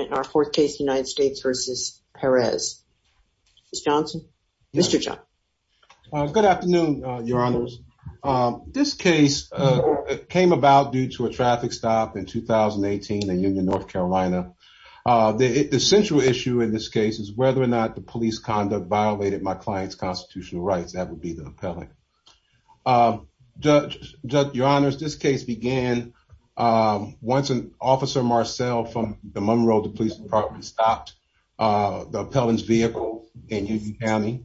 in our fourth case United States versus Perez. Mr. Johnson? Mr. Johnson. Good afternoon, your honors. This case came about due to a traffic stop in 2018 in Union, North Carolina. The central issue in this case is whether or not the police conduct violated my client's constitutional rights. That would be the appellate. Your honors, this case began once an officer, Marcel, from the Monroe Police Department stopped the appellant's vehicle in Union County.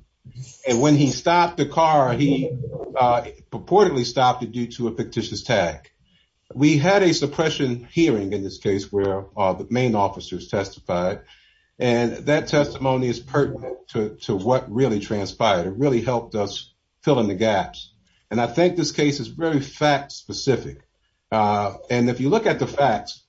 And when he stopped the car, he purportedly stopped it due to a fictitious tag. We had a suppression hearing in this case where the main officers testified, and that testimony is pertinent to what really transpired. It really helped us And I think this case is very fact specific. And if you look at the facts,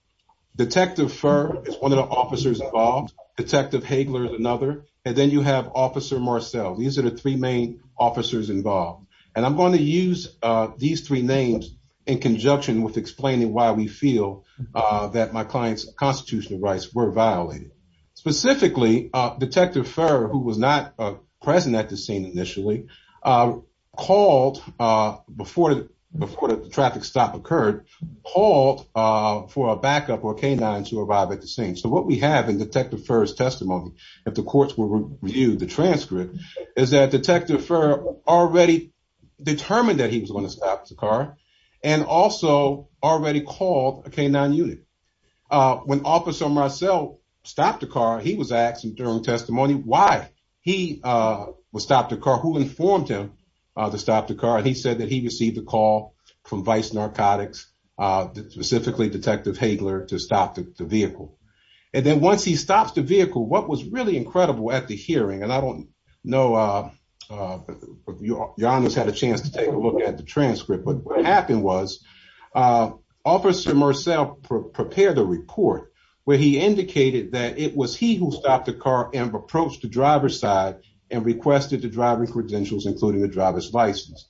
Detective Furr is one of the officers involved, Detective Hagler is another, and then you have Officer Marcel. These are the three main officers involved. And I'm going to use these three names in conjunction with explaining why we feel that my client's constitutional rights were violated. Specifically, Detective Furr, who was not present at the scene initially, before the traffic stop occurred, called for a backup or a K-9 to arrive at the scene. So what we have in Detective Furr's testimony, if the courts will review the transcript, is that Detective Furr already determined that he was going to stop the car and also already called a K-9 unit. When Officer Marcel stopped the car, he was asking during testimony why he was stopped the car, who informed him to stop the car, and he said that he received a call from Vice Narcotics, specifically Detective Hagler, to stop the vehicle. And then once he stops the vehicle, what was really incredible at the hearing, and I don't know if your honor's had a chance to take a look at the transcript, but what happened was Officer Marcel prepared a report where he included the driver's license.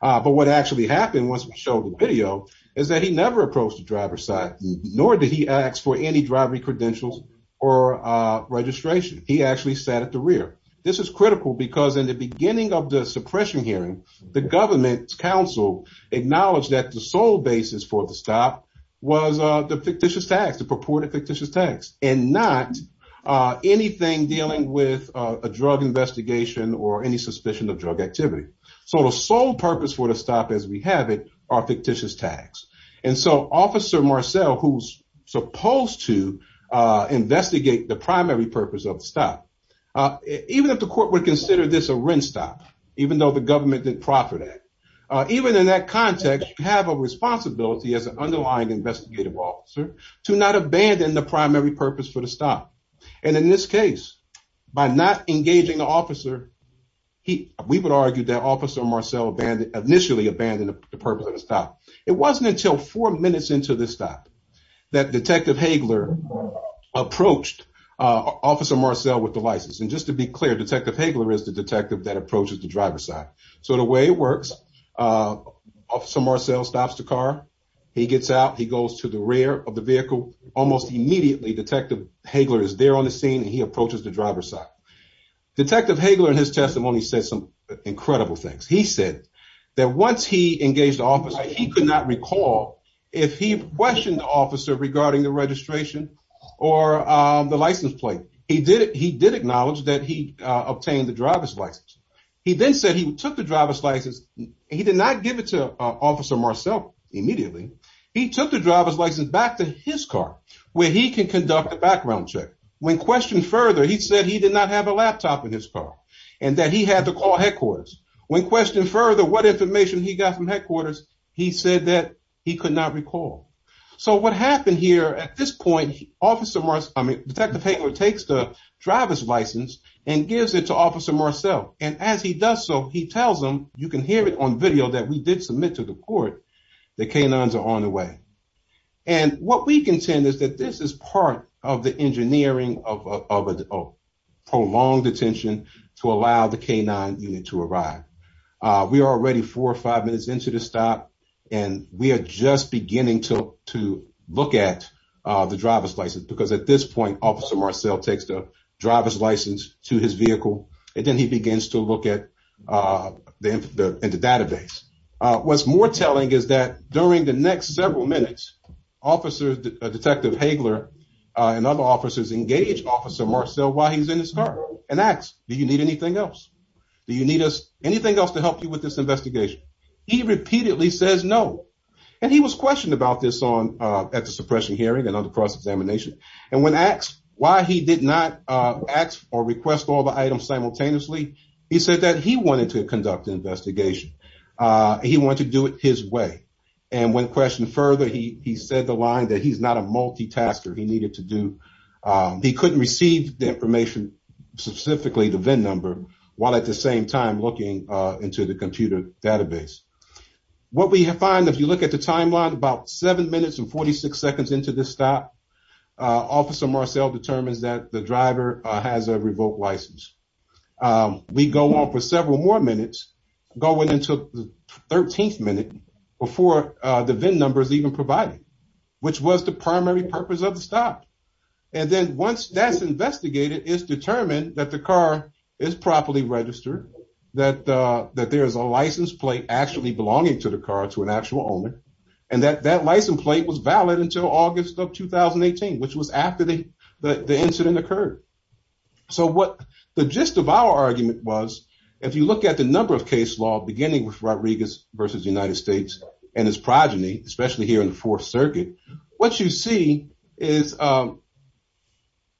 But what actually happened, once we showed the video, is that he never approached the driver's side, nor did he ask for any drivery credentials or registration. He actually sat at the rear. This is critical because in the beginning of the suppression hearing, the government's counsel acknowledged that the sole basis for the stop was the fictitious tax, the purported fictitious tax, and not anything dealing with a drug investigation or any suspicion of drug activity. So the sole purpose for the stop, as we have it, are fictitious tax. And so Officer Marcel, who's supposed to investigate the primary purpose of the stop, even if the court would consider this a rent stop, even though the government didn't proffer that, even in that context, you have a responsibility as an underlying investigative officer to not abandon the primary purpose for the stop. And in this case, by not engaging the officer, we would argue that Officer Marcel initially abandoned the purpose of the stop. It wasn't until four minutes into the stop that Detective Hagler approached Officer Marcel with the license. And just to be clear, Detective Hagler is the detective that approaches the driver's side. So the way it works, Officer Marcel stops the car. He gets out. He goes to the rear of the vehicle. Almost immediately, Detective Hagler is there on the scene and he approaches the driver's side. Detective Hagler, in his testimony, said some incredible things. He said that once he engaged the officer, he could not recall if he questioned the officer regarding the registration or the license plate. He did acknowledge that he obtained the driver's license. He then said he took the driver's license. He did not give it to Officer Marcel immediately. He took the driver's license back to his car where he can conduct a background check. When questioned further, he said he did not have a laptop in his car and that he had to call headquarters. When questioned further what information he got from headquarters, he said that he could not recall. So what happened here at this point, Detective Hagler takes the driver's license and gives it to Officer Marcel. And as he does so, he tells him, you can hear it on video that we did submit to the court that K-9s are on the way. And what we contend is that this is part of the engineering of a prolonged detention to allow the K-9 unit to arrive. We are already four or five minutes into the stop and we are just beginning to look at the driver's license. Because at this point, Officer Marcel takes the driver's license to his vehicle and then he begins to look at the database. What's more telling is that during the next several minutes, Detective Hagler and other officers engage Officer Marcel while he's in his car and ask, do you need anything else? Do you need anything else to help you with this investigation? He repeatedly says no. And he was questioned about this at the suppression hearing and on the cross-examination. And when asked why he did not ask or request all the items simultaneously, he said that he wanted to conduct the investigation. He wanted to do it his way. And when questioned further, he said the line that he's not a multitasker. He needed to do, he couldn't receive the information, specifically the VIN number, while at the same time looking into the computer database. What we find, if you look at the timeline, about seven minutes and 46 seconds into the stop, Officer Marcel determines that the driver has a revoked license. We go on for several more minutes going into the 13th minute before the VIN number is even provided, which was the primary purpose of the stop. And then once that's investigated, it's determined that the car is properly registered, that there is a license plate actually belonging to the car to an actual owner, and that that license plate was valid until August of 2018, which was after the incident occurred. So what the gist of our argument was, if you look at the number of case law beginning with Rodriguez versus the United States and his progeny, especially here in the Fourth Circuit, what you see is an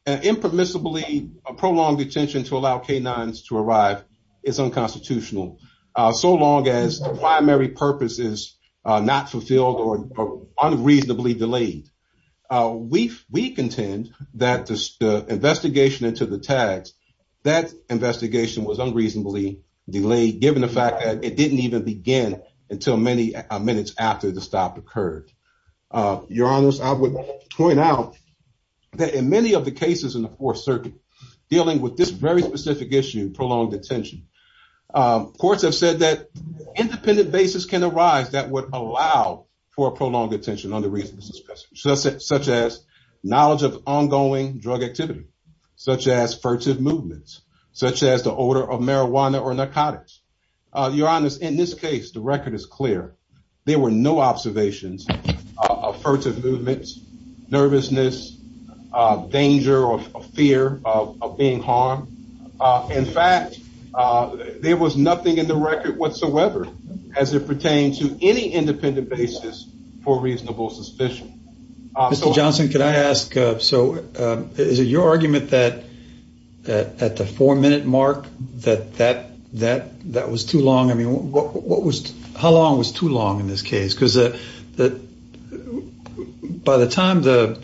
impermissibly prolonged detention to allow K-9s to arrive is unconstitutional, so long as the primary purpose is not fulfilled or unreasonably delayed. We contend that the investigation into the tags, that investigation was unreasonably delayed, given the fact that it didn't even begin until many minutes after the stop occurred. Your Honors, I would point out that in many of the cases in the Fourth Circuit dealing with this very specific issue, prolonged detention, courts have said that independent basis can arise that would allow for a prolonged detention under reasonable suspicion, such as knowledge of ongoing drug activity, such as furtive movements, such as the odor of marijuana or narcotics. Your Honors, in this case, the record is clear. There were no observations of furtive movements, nervousness, danger, or fear of being harmed. In fact, there was nothing in the record whatsoever as it pertained to any independent basis for reasonable suspicion. Mr. Johnson, could I ask, so is it your argument that at the four-minute mark that that was too long? I mean, how long was too long in this case? Because by the time the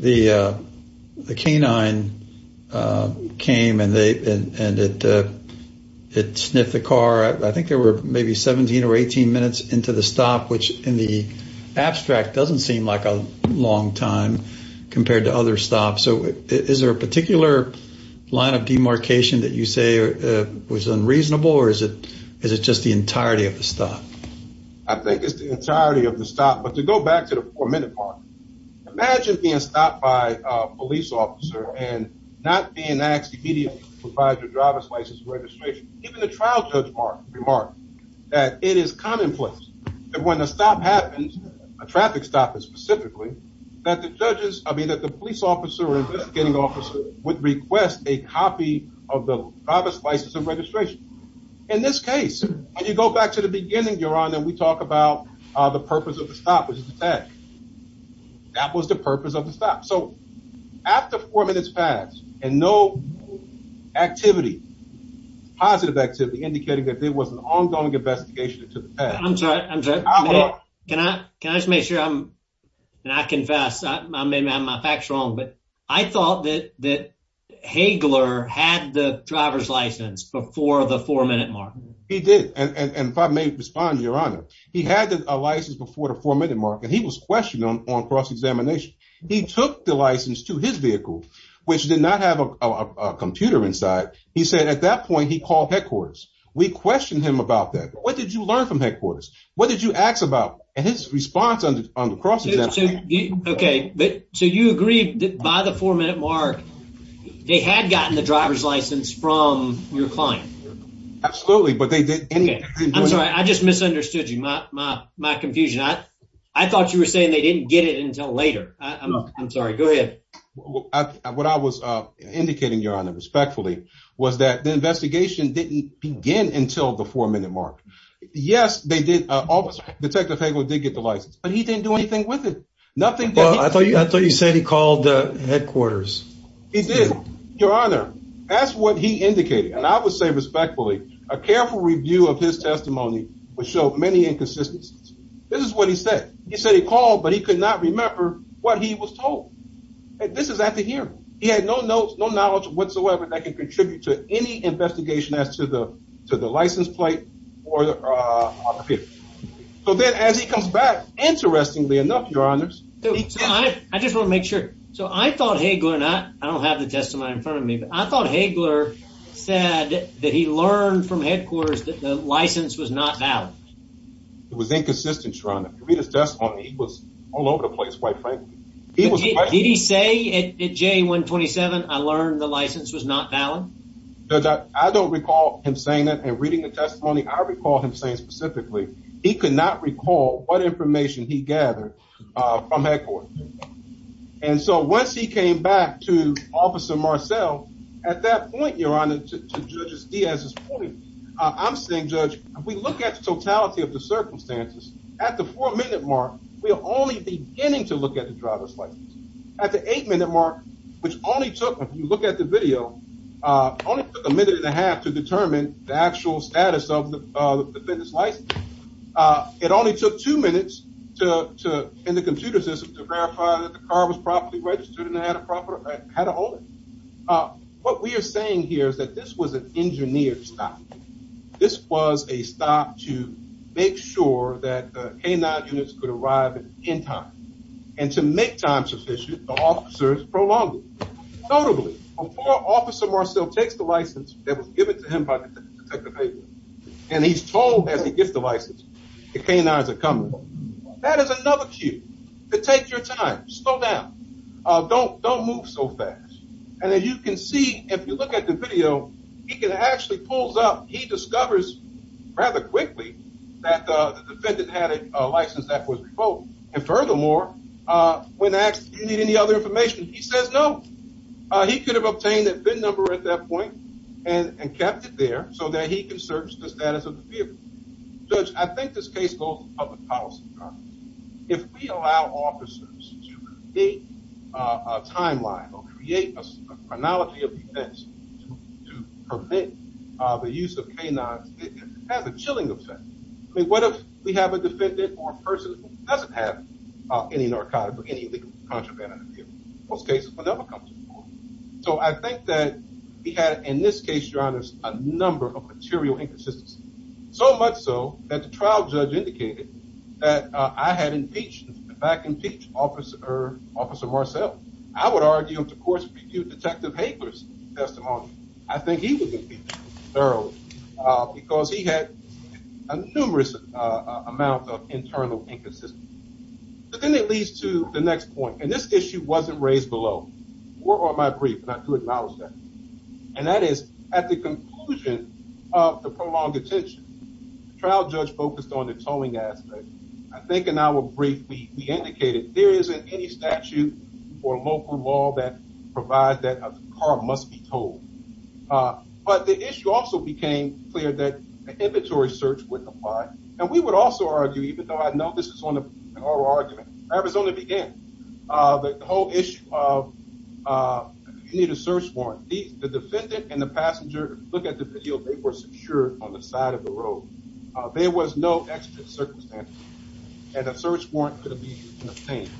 K-9 came and it sniffed the car, I think there were maybe 17 or 18 minutes into the stop, which in the abstract doesn't seem like a long time compared to other stops. So is there a particular line of demarcation that you say was unreasonable, or is it just the entirety of the stop? I think it's the entirety of the stop. But to go back to the four-minute mark, imagine being stopped by a police officer and not being asked immediately to provide your driver's license and registration. Even the trial judge remarked that it is commonplace that when a stop happens, a traffic stop is specifically, that the judges, I mean, that the police officer or investigating officer would request a copy of the driver's license and registration. In this case, when you go back to the beginning, Your Honor, and we talk about the purpose of the stop was detached. That was the purpose of the stop. So after four minutes passed and no activity, positive activity, indicating that there was an ongoing investigation that took place. I'm sorry, I'm sorry. Can I just make sure I'm, and I confess, I may have my facts wrong, but I thought that Hagler had the driver's license before the four-minute mark. He did, and if I may respond, Your Honor, he had a license before the four-minute mark and he was questioned on cross-examination. He took the license to his vehicle, which did not have a computer inside. He said at that point he called headquarters. We questioned him about that, but what did you learn from headquarters? What did you ask about and his response on the cross-examination? Okay, but so you agree that by the four-minute mark, they had gotten the driver's license from your client? Absolutely, but they didn't. I'm sorry, I just misunderstood you, my confusion. I thought you were saying they didn't get it until later. I'm sorry, go ahead. What I was indicating, Your Honor, respectfully, was that the investigation didn't begin until the four-minute mark. Yes, they did, Detective Hagler did get the license, but he didn't do anything with it. Nothing. Well, I thought you said he called headquarters. He did, Your Honor. That's what he indicated, and I would say respectfully, a careful review of his testimony would show many inconsistencies. This is what he said. He said he called, but he could not remember what he was told. This is at the hearing. He had no notes, no knowledge whatsoever that can contribute to any investigation as to the license plate on the computer. So then, as he comes back, interestingly enough, Your Honors... I just want to make sure. So I thought Hagler, and I don't have the testimony in front of me, but I thought Hagler said that he learned from headquarters that the license was not valid. It was inconsistent, Your Honor. If you read his testimony, he was all over the place, quite frankly. Did he say at J-127, I learned the valid? Judge, I don't recall him saying that and reading the testimony. I recall him saying specifically he could not recall what information he gathered from headquarters. And so once he came back to Officer Marcel, at that point, Your Honor, to Judge Diaz's point, I'm saying, Judge, if we look at the totality of the circumstances, at the four-minute mark, we are only beginning to look at the driver's license. At the eight-minute mark, which only took, if you look at the video, only took a minute and a half to determine the actual status of the defendant's license. It only took two minutes in the computer system to verify that the car was properly registered and had a holder. What we are saying here is that this was an engineered stop. This was a stop to make sure that the K-9 units could arrive in time. And to make time sufficient, the officers prolonged it. Notably, before Officer Marcel takes the license that was given to him and he's told as he gets the license, the K-9s are coming. That is another cue to take your time. Slow down. Don't move so fast. And as you can see, if you look at the video, he can actually pull up. He discovers rather quickly that the defendant had a license that was revoked. And he says no. He could have obtained a VIN number at that point and kept it there so that he can search the status of the vehicle. Judge, I think this case goes to public policy. If we allow officers to create a timeline or create a chronology of events to permit the use of K-9s, it has a chilling effect. I mean, what if we have a defendant or a person who doesn't have any narcotics or any illegal contraband in the vehicle? Most cases will never come to the court. So I think that he had, in this case, Your Honor, a number of material inconsistencies. So much so that the trial judge indicated that I had impeached, in fact, impeached Officer Marcel. I would argue, of course, to recuse Detective Hagler's testimony. I think he would know because he had a numerous amount of internal inconsistency. But then it leads to the next point, and this issue wasn't raised below. My brief, and I do acknowledge that. And that is, at the conclusion of the prolonged detention, the trial judge focused on the tolling aspect. I think in our brief, we indicated there isn't any statute or local law that provides that a car must be tolled. But the issue also became clear that an inventory search wouldn't apply. And we would also argue, even though I know this is one of our arguments, Arizona began. The whole issue of you need a search warrant. The defendant and the passenger, look at the video, they were secured on the side of the road. There was no circumstance that a search warrant could be obtained.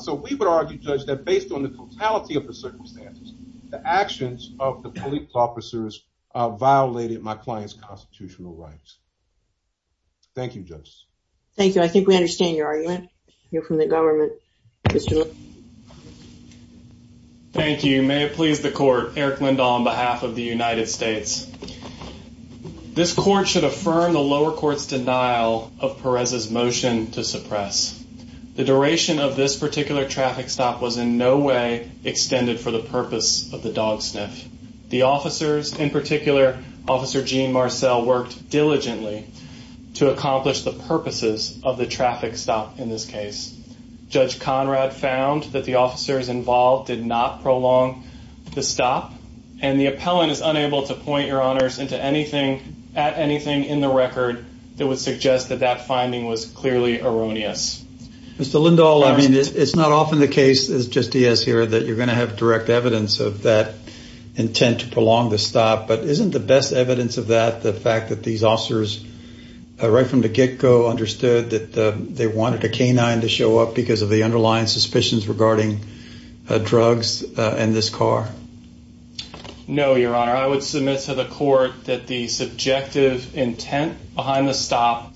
So we would argue, Judge, that based on the totality of the circumstances, the actions of the police officers violated my client's constitutional rights. Thank you, Judge. Thank you. I think we understand your argument. You're from the government. Thank you. May it please the court. Eric Lindahl on behalf of the of Perez's motion to suppress the duration of this particular traffic stop was in no way extended for the purpose of the dog sniff. The officers, in particular, Officer Gene Marcel, worked diligently to accomplish the purposes of the traffic stop. In this case, Judge Conrad found that the officers involved did not prolong the stop. And the appellant is unable to point your record that would suggest that that finding was clearly erroneous. Mr. Lindahl, I mean, it's not often the case, as Judge Diaz here, that you're going to have direct evidence of that intent to prolong the stop. But isn't the best evidence of that the fact that these officers right from the get-go understood that they wanted a canine to show up because of the underlying suspicions regarding drugs and this car? No, Your Honor. I would submit to the court that the subjective intent behind the stop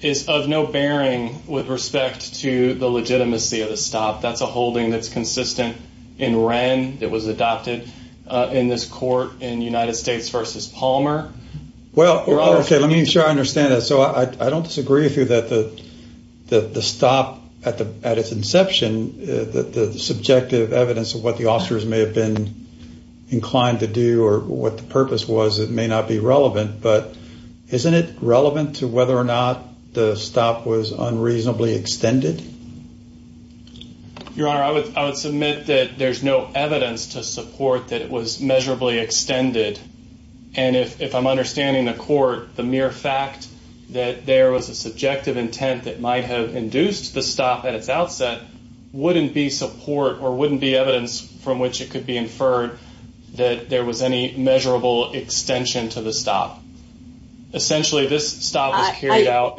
is of no bearing with respect to the legitimacy of the stop. That's a holding that's consistent in Wren that was adopted in this court in United States versus Palmer. Well, okay, let me ensure I understand that. So I don't disagree with you that the that the stop at the at its inception, the subjective evidence of what the officers may have been inclined to do or what the purpose was, it may not be relevant. But isn't it relevant to whether or not the stop was unreasonably extended? Your Honor, I would submit that there's no evidence to support that it was measurably extended. And if I'm understanding the court, the mere fact that there was a subjective intent that might have induced the stop at its outset wouldn't be support or wouldn't be evidence from which it could be inferred that there was any measurable extension to the stop. Essentially, this stop was carried out.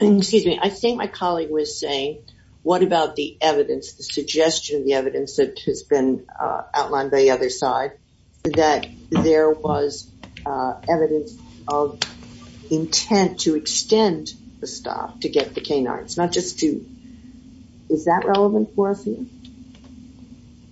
Excuse me, I think my colleague was saying, what about the evidence, the suggestion, the evidence that has been outlined by the other side that there was evidence of intent to extend the stop to get the canines, not just to, is that relevant for us?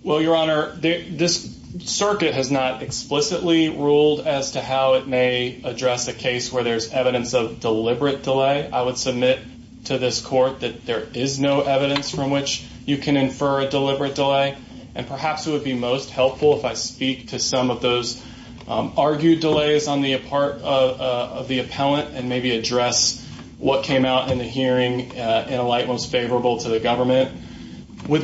Well, Your Honor, this circuit has not explicitly ruled as to how it may address a case where there's evidence of deliberate delay, I would submit to this court that there is no evidence from which you can infer a deliberate delay. And perhaps it would be most helpful if I speak to some of those argued delays on the part of the appellant and maybe address what came out in the government. Let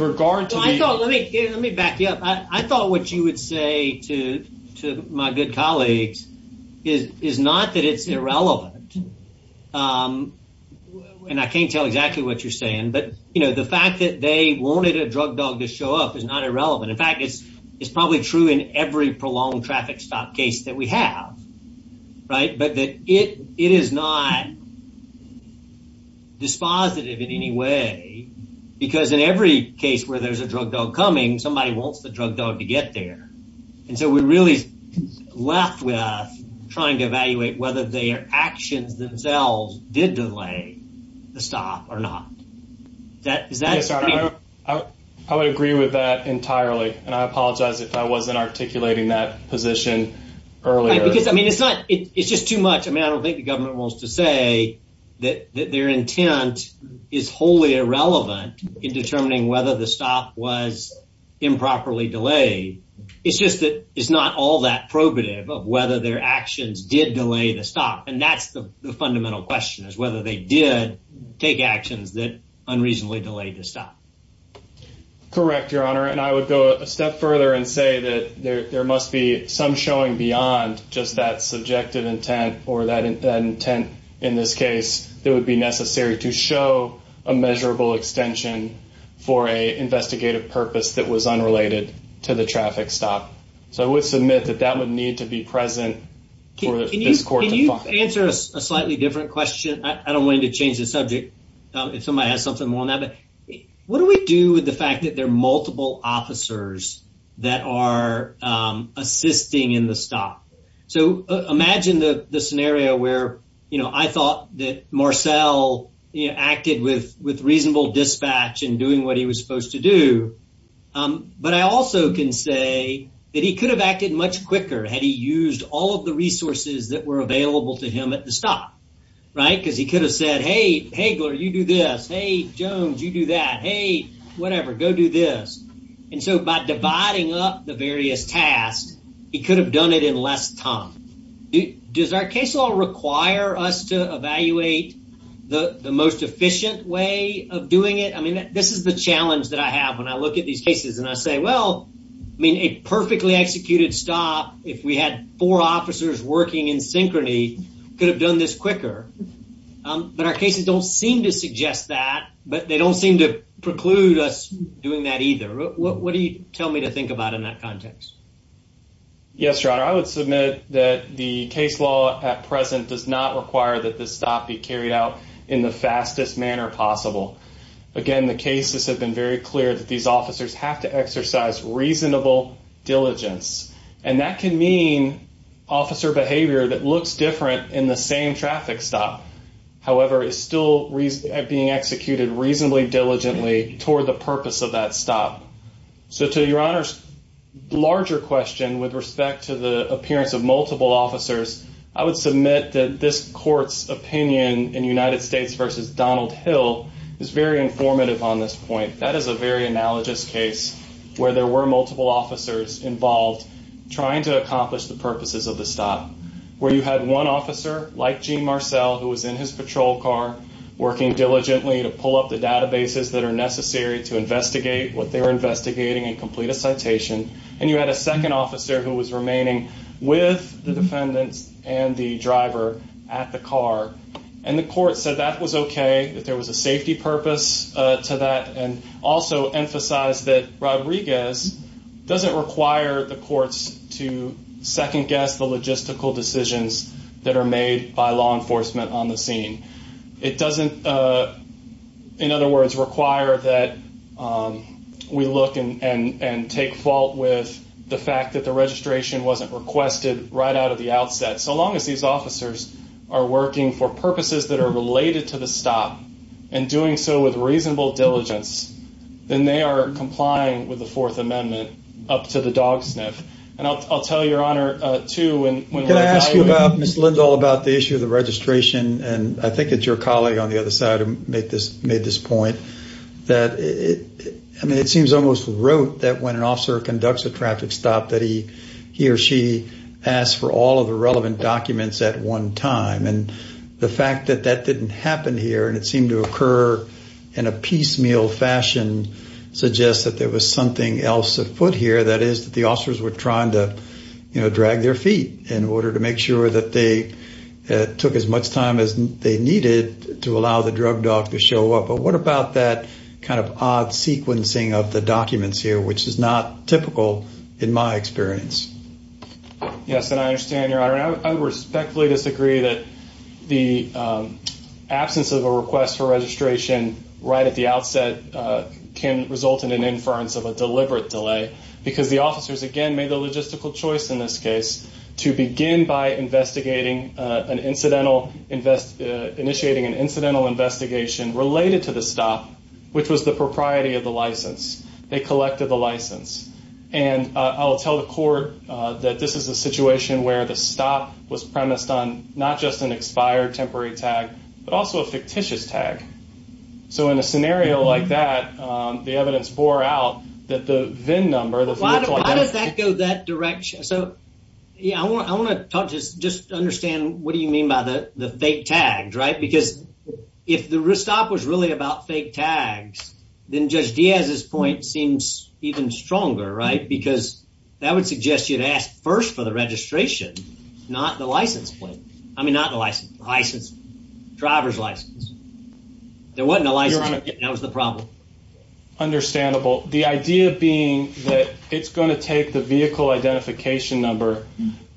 me back you up. I thought what you would say to my good colleagues is not that it's irrelevant. And I can't tell exactly what you're saying, but the fact that they wanted a drug dog to show up is not irrelevant. In fact, it's probably true in every prolonged traffic stop case that we have, right? But it is not dispositive in any way, because in every case where there's a drug dog coming, somebody wants the drug dog to get there. And so we're really left with trying to evaluate whether their actions themselves did delay the stop or not. I would agree with that entirely. And I apologize if I wasn't articulating that position earlier. Because I mean, it's just too much. I mean, I don't think the government wants to say that their intent is wholly irrelevant in determining whether the stop was improperly delayed. It's just that it's not all that probative of whether their actions did delay the stop. And that's the fundamental question, is whether they did take actions that unreasonably delayed the stop. Correct, Your Honor. And I would go a step further and say that there must be some showing beyond just that subjective intent or that intent, in this case, that would be necessary to show a measurable extension for a investigative purpose that was unrelated to the traffic stop. So I would submit that that would need to be present for this court to find. Can you answer a slightly different question? I don't want to change the subject if somebody has something more on that. But what do we do with the fact that there are are assisting in the stop? So imagine the scenario where, you know, I thought that Marcel acted with reasonable dispatch in doing what he was supposed to do. But I also can say that he could have acted much quicker had he used all of the resources that were available to him at the stop, right? Because he could have said, hey, Hagler, you do this. Hey, Jones, you do that. Hey, whatever, go do this. And so by dividing up the various tasks, he could have done it in less time. Does our case law require us to evaluate the most efficient way of doing it? I mean, this is the challenge that I have when I look at these cases and I say, well, I mean, a perfectly executed stop, if we had four officers working in synchrony, could have done this quicker. But our cases don't seem to suggest that. But they don't seem to include us doing that either. What do you tell me to think about in that context? Yes, your honor, I would submit that the case law at present does not require that the stop be carried out in the fastest manner possible. Again, the cases have been very clear that these officers have to exercise reasonable diligence. And that can mean officer behavior that looks different in the same traffic stop, however, is still being executed reasonably diligently toward the purpose of that stop. So to your honor's larger question with respect to the appearance of multiple officers, I would submit that this court's opinion in United States versus Donald Hill is very informative on this point. That is a very analogous case where there were multiple officers involved, trying to accomplish the purposes of the stop, where you had one officer like Gene Marcel, who was in his patrol car, working diligently to pull up the databases that are necessary to investigate what they're investigating and complete a citation. And you had a second officer who was remaining with the defendants and the driver at the car. And the court said that was okay, that there was a safety purpose to that and also emphasize that Rodriguez doesn't require the courts to second-guess the logistical decisions that are made by law enforcement on the scene. It doesn't, in other words, require that we look and take fault with the fact that the registration wasn't requested right out of the outset. So long as these officers are working for purposes that are related to the stop and doing so with reasonable diligence, then they are complying with the Fourth Amendment up to the dog sniff. And I'll tell your Honor, too, when... Can I ask you about, Ms. Lindahl, about the issue of the registration? And I think it's your colleague on the other side who made this point, that it seems almost rote that when an officer conducts a traffic stop that he or she asks for all of the relevant documents at one time. And the fact that that didn't happen here and it seemed to occur in a piecemeal fashion suggests that there was something else afoot here. That is that the officers were trying to, you know, drag their feet in order to make sure that they took as much time as they needed to allow the drug dog to show up. But what about that kind of odd sequencing of the documents here, which is not typical in my experience? Yes, and I understand your Honor. I respectfully disagree that the absence of a request for registration right at the outset can result in an inference of a deliberate delay because the officers, again, made the logistical choice in this case to begin by investigating an incidental invest... Initiating an incidental investigation related to the stop, which was the propriety of the license. They collected the not just an expired temporary tag, but also a fictitious tag. So in a scenario like that, the evidence bore out that the VIN number... Why does that go that direction? So yeah, I want to talk to just understand what do you mean by the fake tags, right? Because if the restop was really about fake tags, then Judge Diaz's point seems even stronger, right? Because that would suggest you'd ask first for the registration, not the license plate. I mean, not the license, driver's license. There wasn't a license plate. That was the problem. Understandable. The idea being that it's going to take the vehicle identification number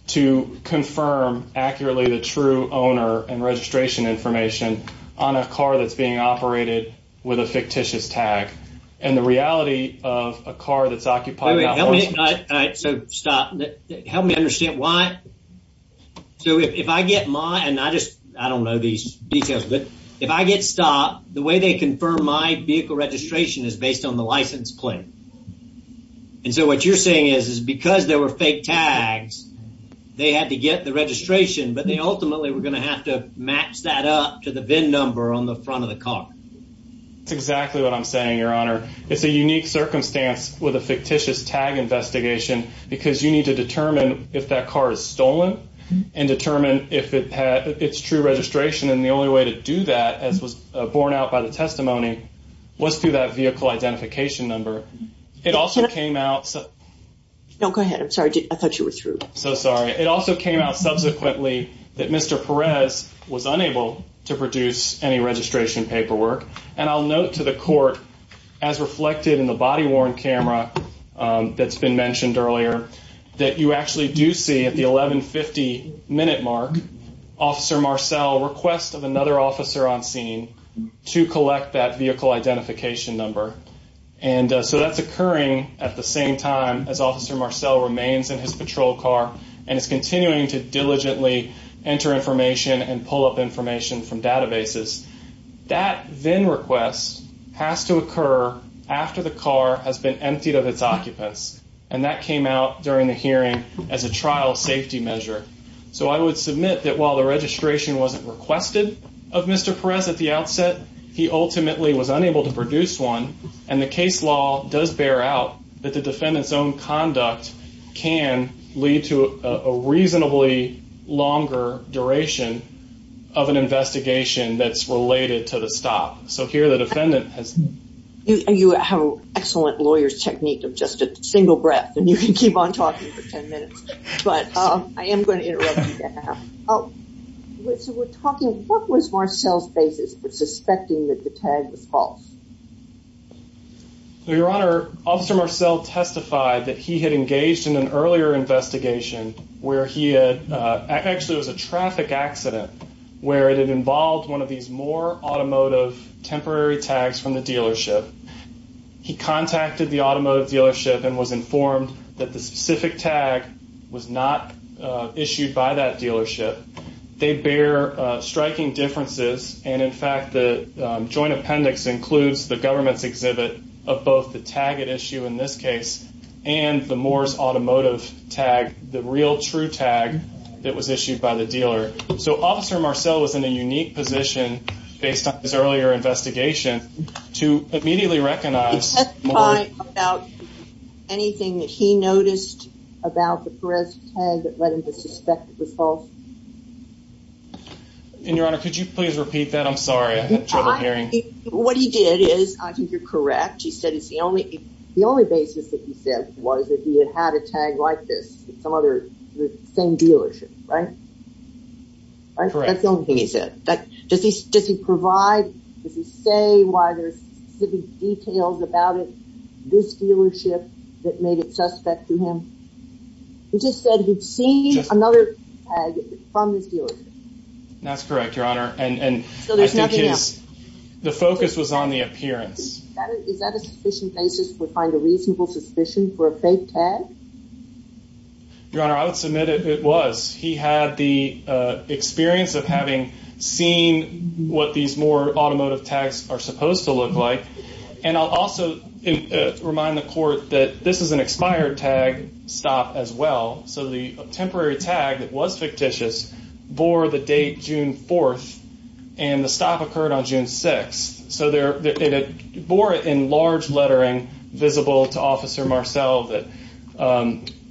to confirm accurately the true owner and registration information on a car that's being operated with a fictitious tag. And the reality of a car that's occupied... All right, so stop. Help me understand why. So if I get my... And I just, I don't know these details, but if I get stopped, the way they confirm my vehicle registration is based on the license plate. And so what you're saying is, is because there were fake tags, they had to get the registration, but they ultimately were going to have to match that up to the VIN number on the front of the car. That's exactly what I'm saying, Your Honor. It's a unique circumstance with a fictitious tag investigation because you need to determine if that car is stolen and determine if it's true registration. And the only way to do that, as was borne out by the testimony, was through that vehicle identification number. It also came out... No, go ahead. I'm sorry. I thought you were through. So sorry. It also came out subsequently that Mr. Perez was unable to produce any registration paperwork. And I'll note to the court, as reflected in the body-worn camera that's been mentioned earlier, that you actually do see at the 1150 minute mark, Officer Marcel requests of another officer on scene to collect that vehicle identification number. And so that's occurring at the same time as Officer Marcel remains in his patrol car and is continuing to diligently enter information and pull up has to occur after the car has been emptied of its occupants. And that came out during the hearing as a trial safety measure. So I would submit that while the registration wasn't requested of Mr. Perez at the outset, he ultimately was unable to produce one. And the case law does bear out that the defendant's own conduct can lead to a reasonably longer duration of an investigation that's related to the stop. So here the defendant has... You have an excellent lawyer's technique of just a single breath, and you can keep on talking for 10 minutes, but I am going to interrupt you now. So we're talking, what was Marcel's basis for suspecting that the tag was false? So Your Honor, Officer Marcel testified that he had engaged in an earlier investigation where he had... Actually, it was a traffic accident where it had involved one of these Moore Automotive temporary tags from the dealership. He contacted the automotive dealership and was informed that the specific tag was not issued by that dealership. They bear striking differences. And in fact, the joint appendix includes the government's exhibit of both the tag at issue in this case and the Moore's Automotive tag, the real true tag that was issued by the dealer. So Officer Marcel was in a unique position based on his earlier investigation to immediately recognize... He testified about anything that he noticed about the Perez tag that led him to suspect it was false. And Your Honor, could you please repeat that? I'm sorry, I had trouble hearing. What he did is, I think you're correct, he said it's the only... The only basis that he said was that he had had a tag like this at some other same dealership, right? That's the only thing he said. Does he provide, does he say why there's specific details about it, this dealership that made it suspect to him? He just said he'd seen another tag from this dealership. That's correct, Your Honor. So there's nothing else? The focus was on the appearance. Is that a sufficient basis to find a reasonable suspicion for a fake tag? Your Honor, I would submit it was. He had the experience of having seen what these Moore Automotive tags are supposed to look like. And I'll also remind the court that this is an expired tag stop as well. So the temporary tag that was fictitious bore the date June 4th, and the stop occurred on June 6th. So it bore it in large lettering visible to Officer Marcel that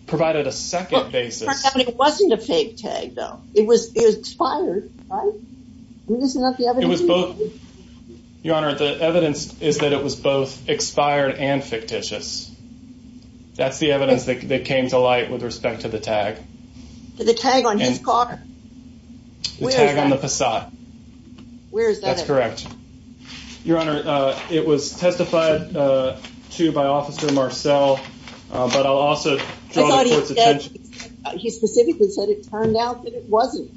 provided a second basis. But it wasn't a fake tag, though. It was expired, right? Isn't that the evidence? Your Honor, the evidence is that it was both expired and fictitious. That's the evidence that came to light with respect to the tag. The tag on his car? The tag on the facade. Where is that? That's correct. Your Honor, it was testified to by Officer Marcel, but I'll also draw the court's attention. He specifically said it turned out that it wasn't.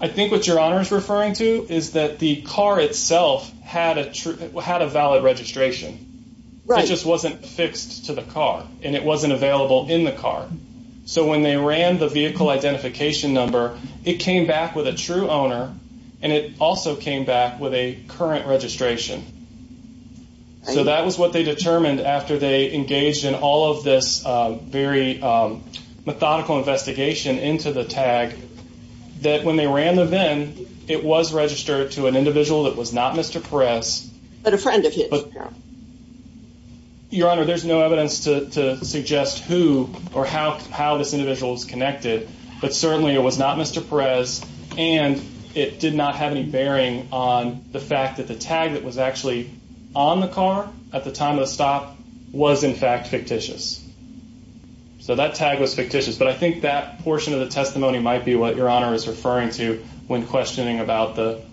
I think what Your Honor is referring to is that the car itself had a valid registration. It just wasn't fixed to the car, and it wasn't available in the car. So when they ran the vehicle identification number, it came back with a true owner, and it also came back with a current registration. So that was what they determined after they engaged in all of this very methodical investigation into the tag, that when they ran the VIN, it was registered to an individual that was not Mr. Perez. But a friend of his. Your Honor, there's no evidence to suggest who or how this individual is connected, but certainly it was not Mr. Perez, and it did not have any bearing on the fact that the tag that was actually on the car at the time of the stop was in fact fictitious. So that tag was fictitious, but I think that portion of the testimony might be what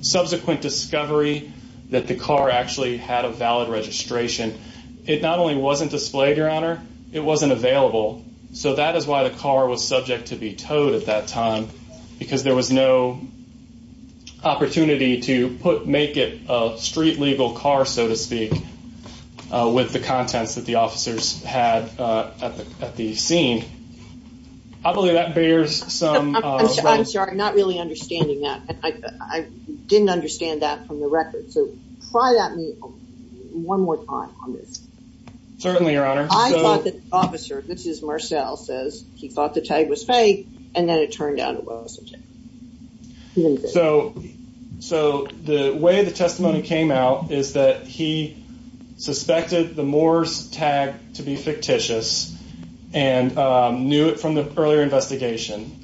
subsequent discovery that the car actually had a valid registration. It not only wasn't displayed, Your Honor, it wasn't available. So that is why the car was subject to be towed at that time, because there was no opportunity to make it a street legal car, so to speak, with the contents that the officers had at the scene. I believe that bears some... I'm sorry, I'm not really understanding that. I didn't understand that from the record. So try that one more time on this. Certainly, Your Honor. I thought that the officer, this is Marcel, says he thought the tag was fake, and then it turned out it wasn't. So the way the testimony came out is that he suspected the Moore's tag to be fictitious and knew it from the earlier investigation.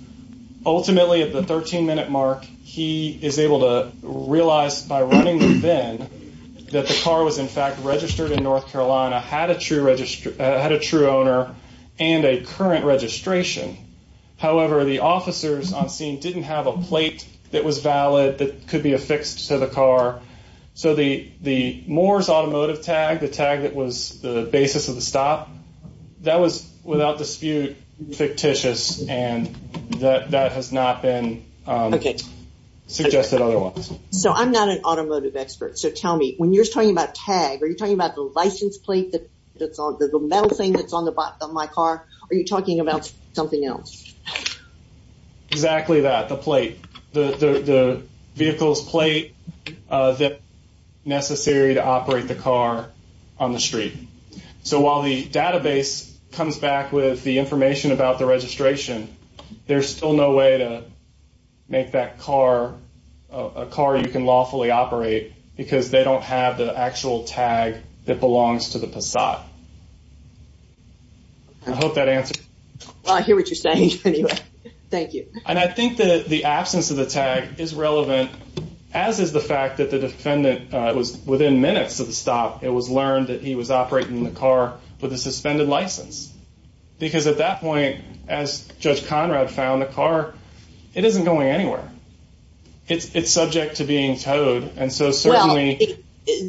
Ultimately, at the 13-minute mark, he is able to realize by running the bin that the car was in fact registered in North Carolina, had a true owner, and a current registration. However, the officers on scene didn't have a plate that was valid that could be affixed to the car. So the Moore's automotive tag, the tag that was the basis of the stop, that was without dispute fictitious, and that has not been suggested otherwise. So I'm not an automotive expert, so tell me, when you're talking about tag, are you talking about the license plate that's on the metal thing that's on my car, or are you talking about something else? Exactly that, the plate, the vehicle's plate that's necessary to operate the street. So while the database comes back with the information about the registration, there's still no way to make that car a car you can lawfully operate because they don't have the actual tag that belongs to the Passat. I hope that answers. Well, I hear what you're saying, anyway. Thank you. And I think that the absence of the tag is relevant, as is the fact that the defendant was within minutes of the stop, it was learned that he was operating the car with a suspended license. Because at that point, as Judge Conrad found the car, it isn't going anywhere. It's subject to being towed, and so certainly... Well,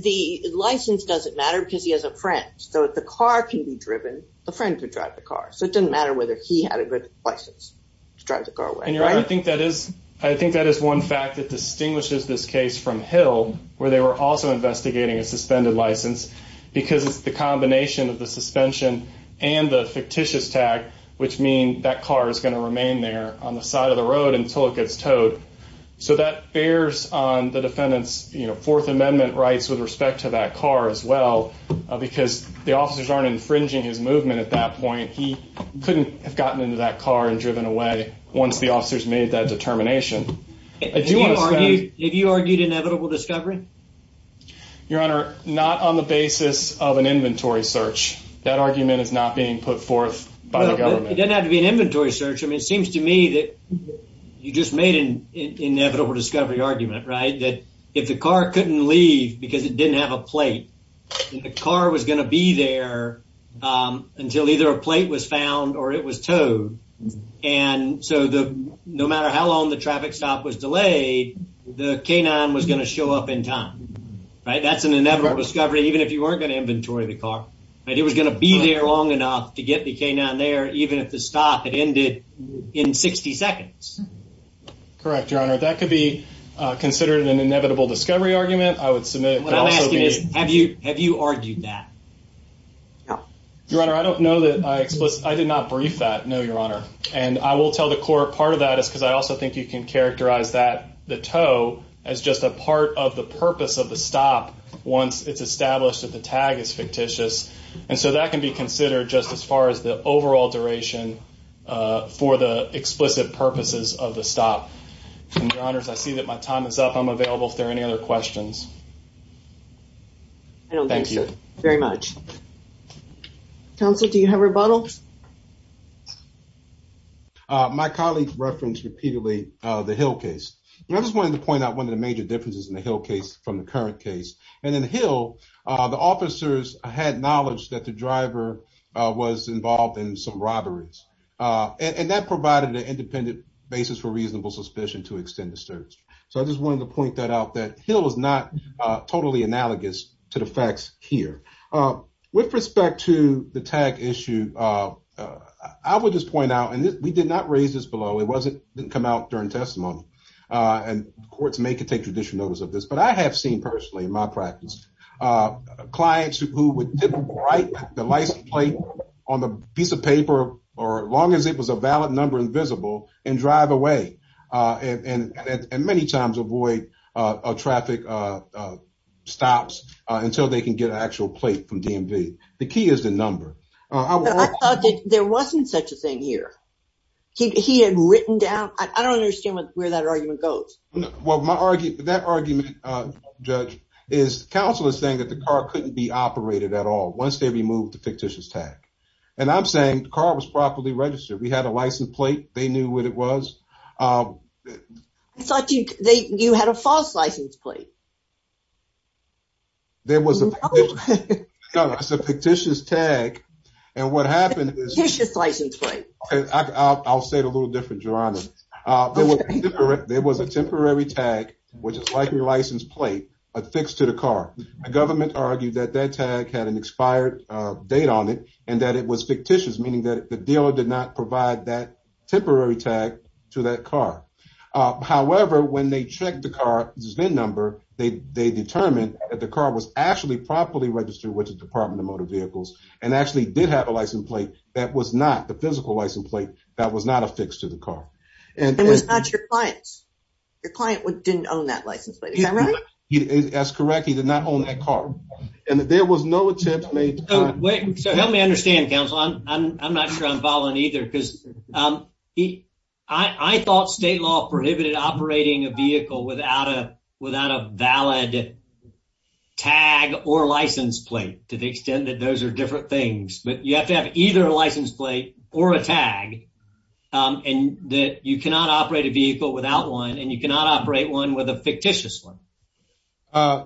the license doesn't matter because he has a friend. So if the car can be driven, the friend could drive the car. So it doesn't matter whether he had a good license to drive the car away. And Your Honor, I think that is one fact that distinguishes this case from Hill, where they were also investigating a suspended license, because it's the combination of the suspension and the fictitious tag, which mean that car is going to remain there on the side of the road until it gets towed. So that bears on the defendant's Fourth Amendment rights with respect to that car as well, because the officers aren't infringing his movement at that point. He couldn't have gotten into that car and driven away once the officers made that determination. Have you argued inevitable discovery? Your Honor, not on the basis of an inventory search. That argument is not being put forth by the government. It doesn't have to be an inventory search. I mean, it seems to me that you just made an inevitable discovery argument, right? That if the car couldn't leave because it didn't have a plate, the car was going to be there until either a plate was found or it was towed. And so no matter how long the traffic stop was delayed, the K-9 was going to show up in time, right? That's an inevitable discovery, even if you weren't going to inventory the car. It was going to be there long enough to get the K-9 there, even if the stop had ended in 60 seconds. Correct, Your Honor. That could be considered an inevitable discovery argument. I would submit... What I'm asking is, have you argued that? Your Honor, I don't know that I explicitly... I did not brief that, no, Your Honor. And I will tell the court part of that is because I also think you can characterize that, the tow, as just a part of the purpose of the stop once it's established that the tag is fictitious. And so that can be considered just as far as the overall duration for the explicit purposes of the stop. And Your Honors, I see that my time is up. I'm available if there are any other questions. Thank you. I don't think so, very much. Counsel, do you have a rebuttal? My colleague referenced repeatedly the Hill case. I just wanted to point out one of the major differences in the Hill case from the current case. And in the Hill, the officers had knowledge that the driver was involved in some robberies. And that provided an independent basis for reasonable suspicion to extend the search. So I just wanted to point that out, that Hill is not totally analogous to the facts here. With respect to the tag issue, I would just point out, and we did not raise this below. It didn't come out during testimony. And courts may take additional notice of this. But I have seen personally in my practice, clients who would write the license plate on the piece of paper, or as long as it was a valid number invisible, and drive away. And many times avoid traffic stops until they can get an actual plate from DMV. The key is the number. There wasn't such a thing here. He had written down, I don't understand where that argument goes. Well, that argument, Judge, is counsel is saying that the car couldn't be operated at all once they removed the fictitious tag. And I'm saying the car was properly registered. We had a license plate. They knew what it was. I thought you had a false license plate. There was a fictitious tag. And what happened is- Fictitious license plate. Okay, I'll say it a little different, Geronimo. There was a temporary tag, which is like your license plate, affixed to the car. The government argued that that tag had an expired date on it, and that it was fictitious, meaning that the dealer did not provide that temporary tag to that car. However, when they checked the car's VIN number, they determined that the car was actually properly registered with the Department of Motor Vehicles, and actually did have a license plate that was not, the physical license plate, that was not affixed to the car. And it was not your client's. Your client didn't own that license plate. Is that right? That's correct. He did not own that car. And there was no attempt made to- Wait, so help me understand, counsel. I'm not sure I'm following either, because I thought state law prohibited operating a vehicle without a valid tag or license plate, to the extent that those are different things. But you have to have either a license plate or a tag, and that you cannot operate a vehicle without one, and you cannot operate one with a fictitious one. Uh,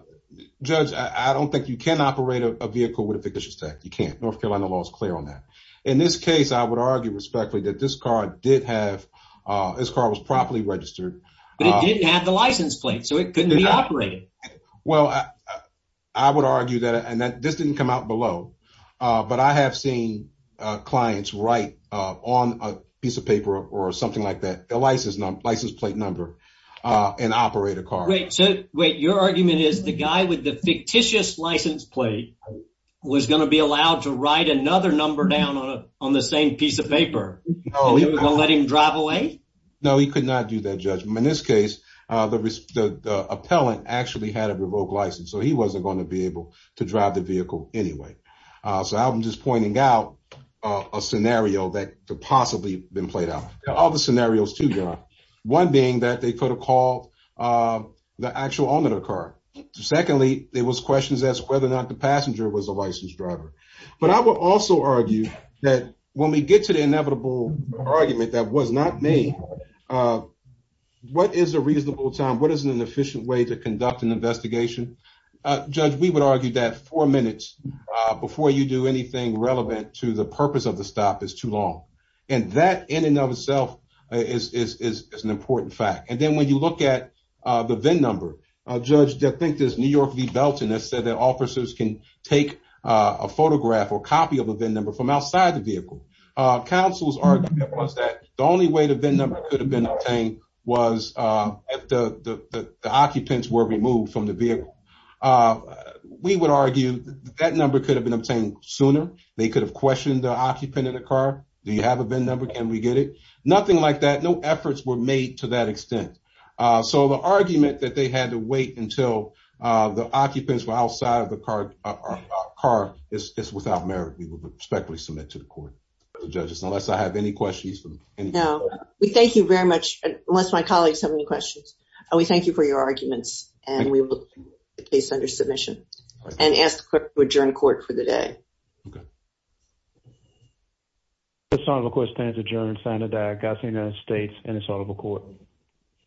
Judge, I don't think you can operate a vehicle with a fictitious tag. You can't. North Carolina law is clear on that. In this case, I would argue respectfully that this car did have, this car was properly registered. But it didn't have the license plate, so it couldn't be operated. Well, I would argue that, and this didn't come out below, but I have seen clients write on a piece of paper or something like that, a license plate number, and operate a car. Wait, your argument is the guy with the fictitious license plate was going to be allowed to write another number down on the same piece of paper, and he was going to let him drive away? No, he could not do that, Judge. In this case, the appellant actually had a revoked license, so he wasn't going to be able to drive the vehicle anyway. So I'm just pointing out a scenario that could possibly have been played out. There are other scenarios, too, John. One being that they could have called the actual owner of the car. Secondly, there was questions as to whether or not the passenger was a licensed driver. But I would also argue that when we get to the inevitable argument that was not made, what is a reasonable time? What is an efficient way to conduct an investigation? Judge, we would argue that four minutes before you do anything relevant to the purpose of the important fact. And then when you look at the VIN number, Judge, I think there's New York v. Belton that said that officers can take a photograph or copy of a VIN number from outside the vehicle. Counsel's argument was that the only way the VIN number could have been obtained was if the occupants were removed from the vehicle. We would argue that number could have been obtained sooner. They could have questioned the occupant of the car. Do you to that extent? So the argument that they had to wait until the occupants were outside of the car is without merit. We would respectfully submit to the court, Judge, unless I have any questions. We thank you very much, unless my colleagues have any questions. We thank you for your arguments, and we will put the case under submission and ask the court to adjourn court for the day. Good. The assortable court stands adjourned. Senator Diagostino, United States, and assortable court.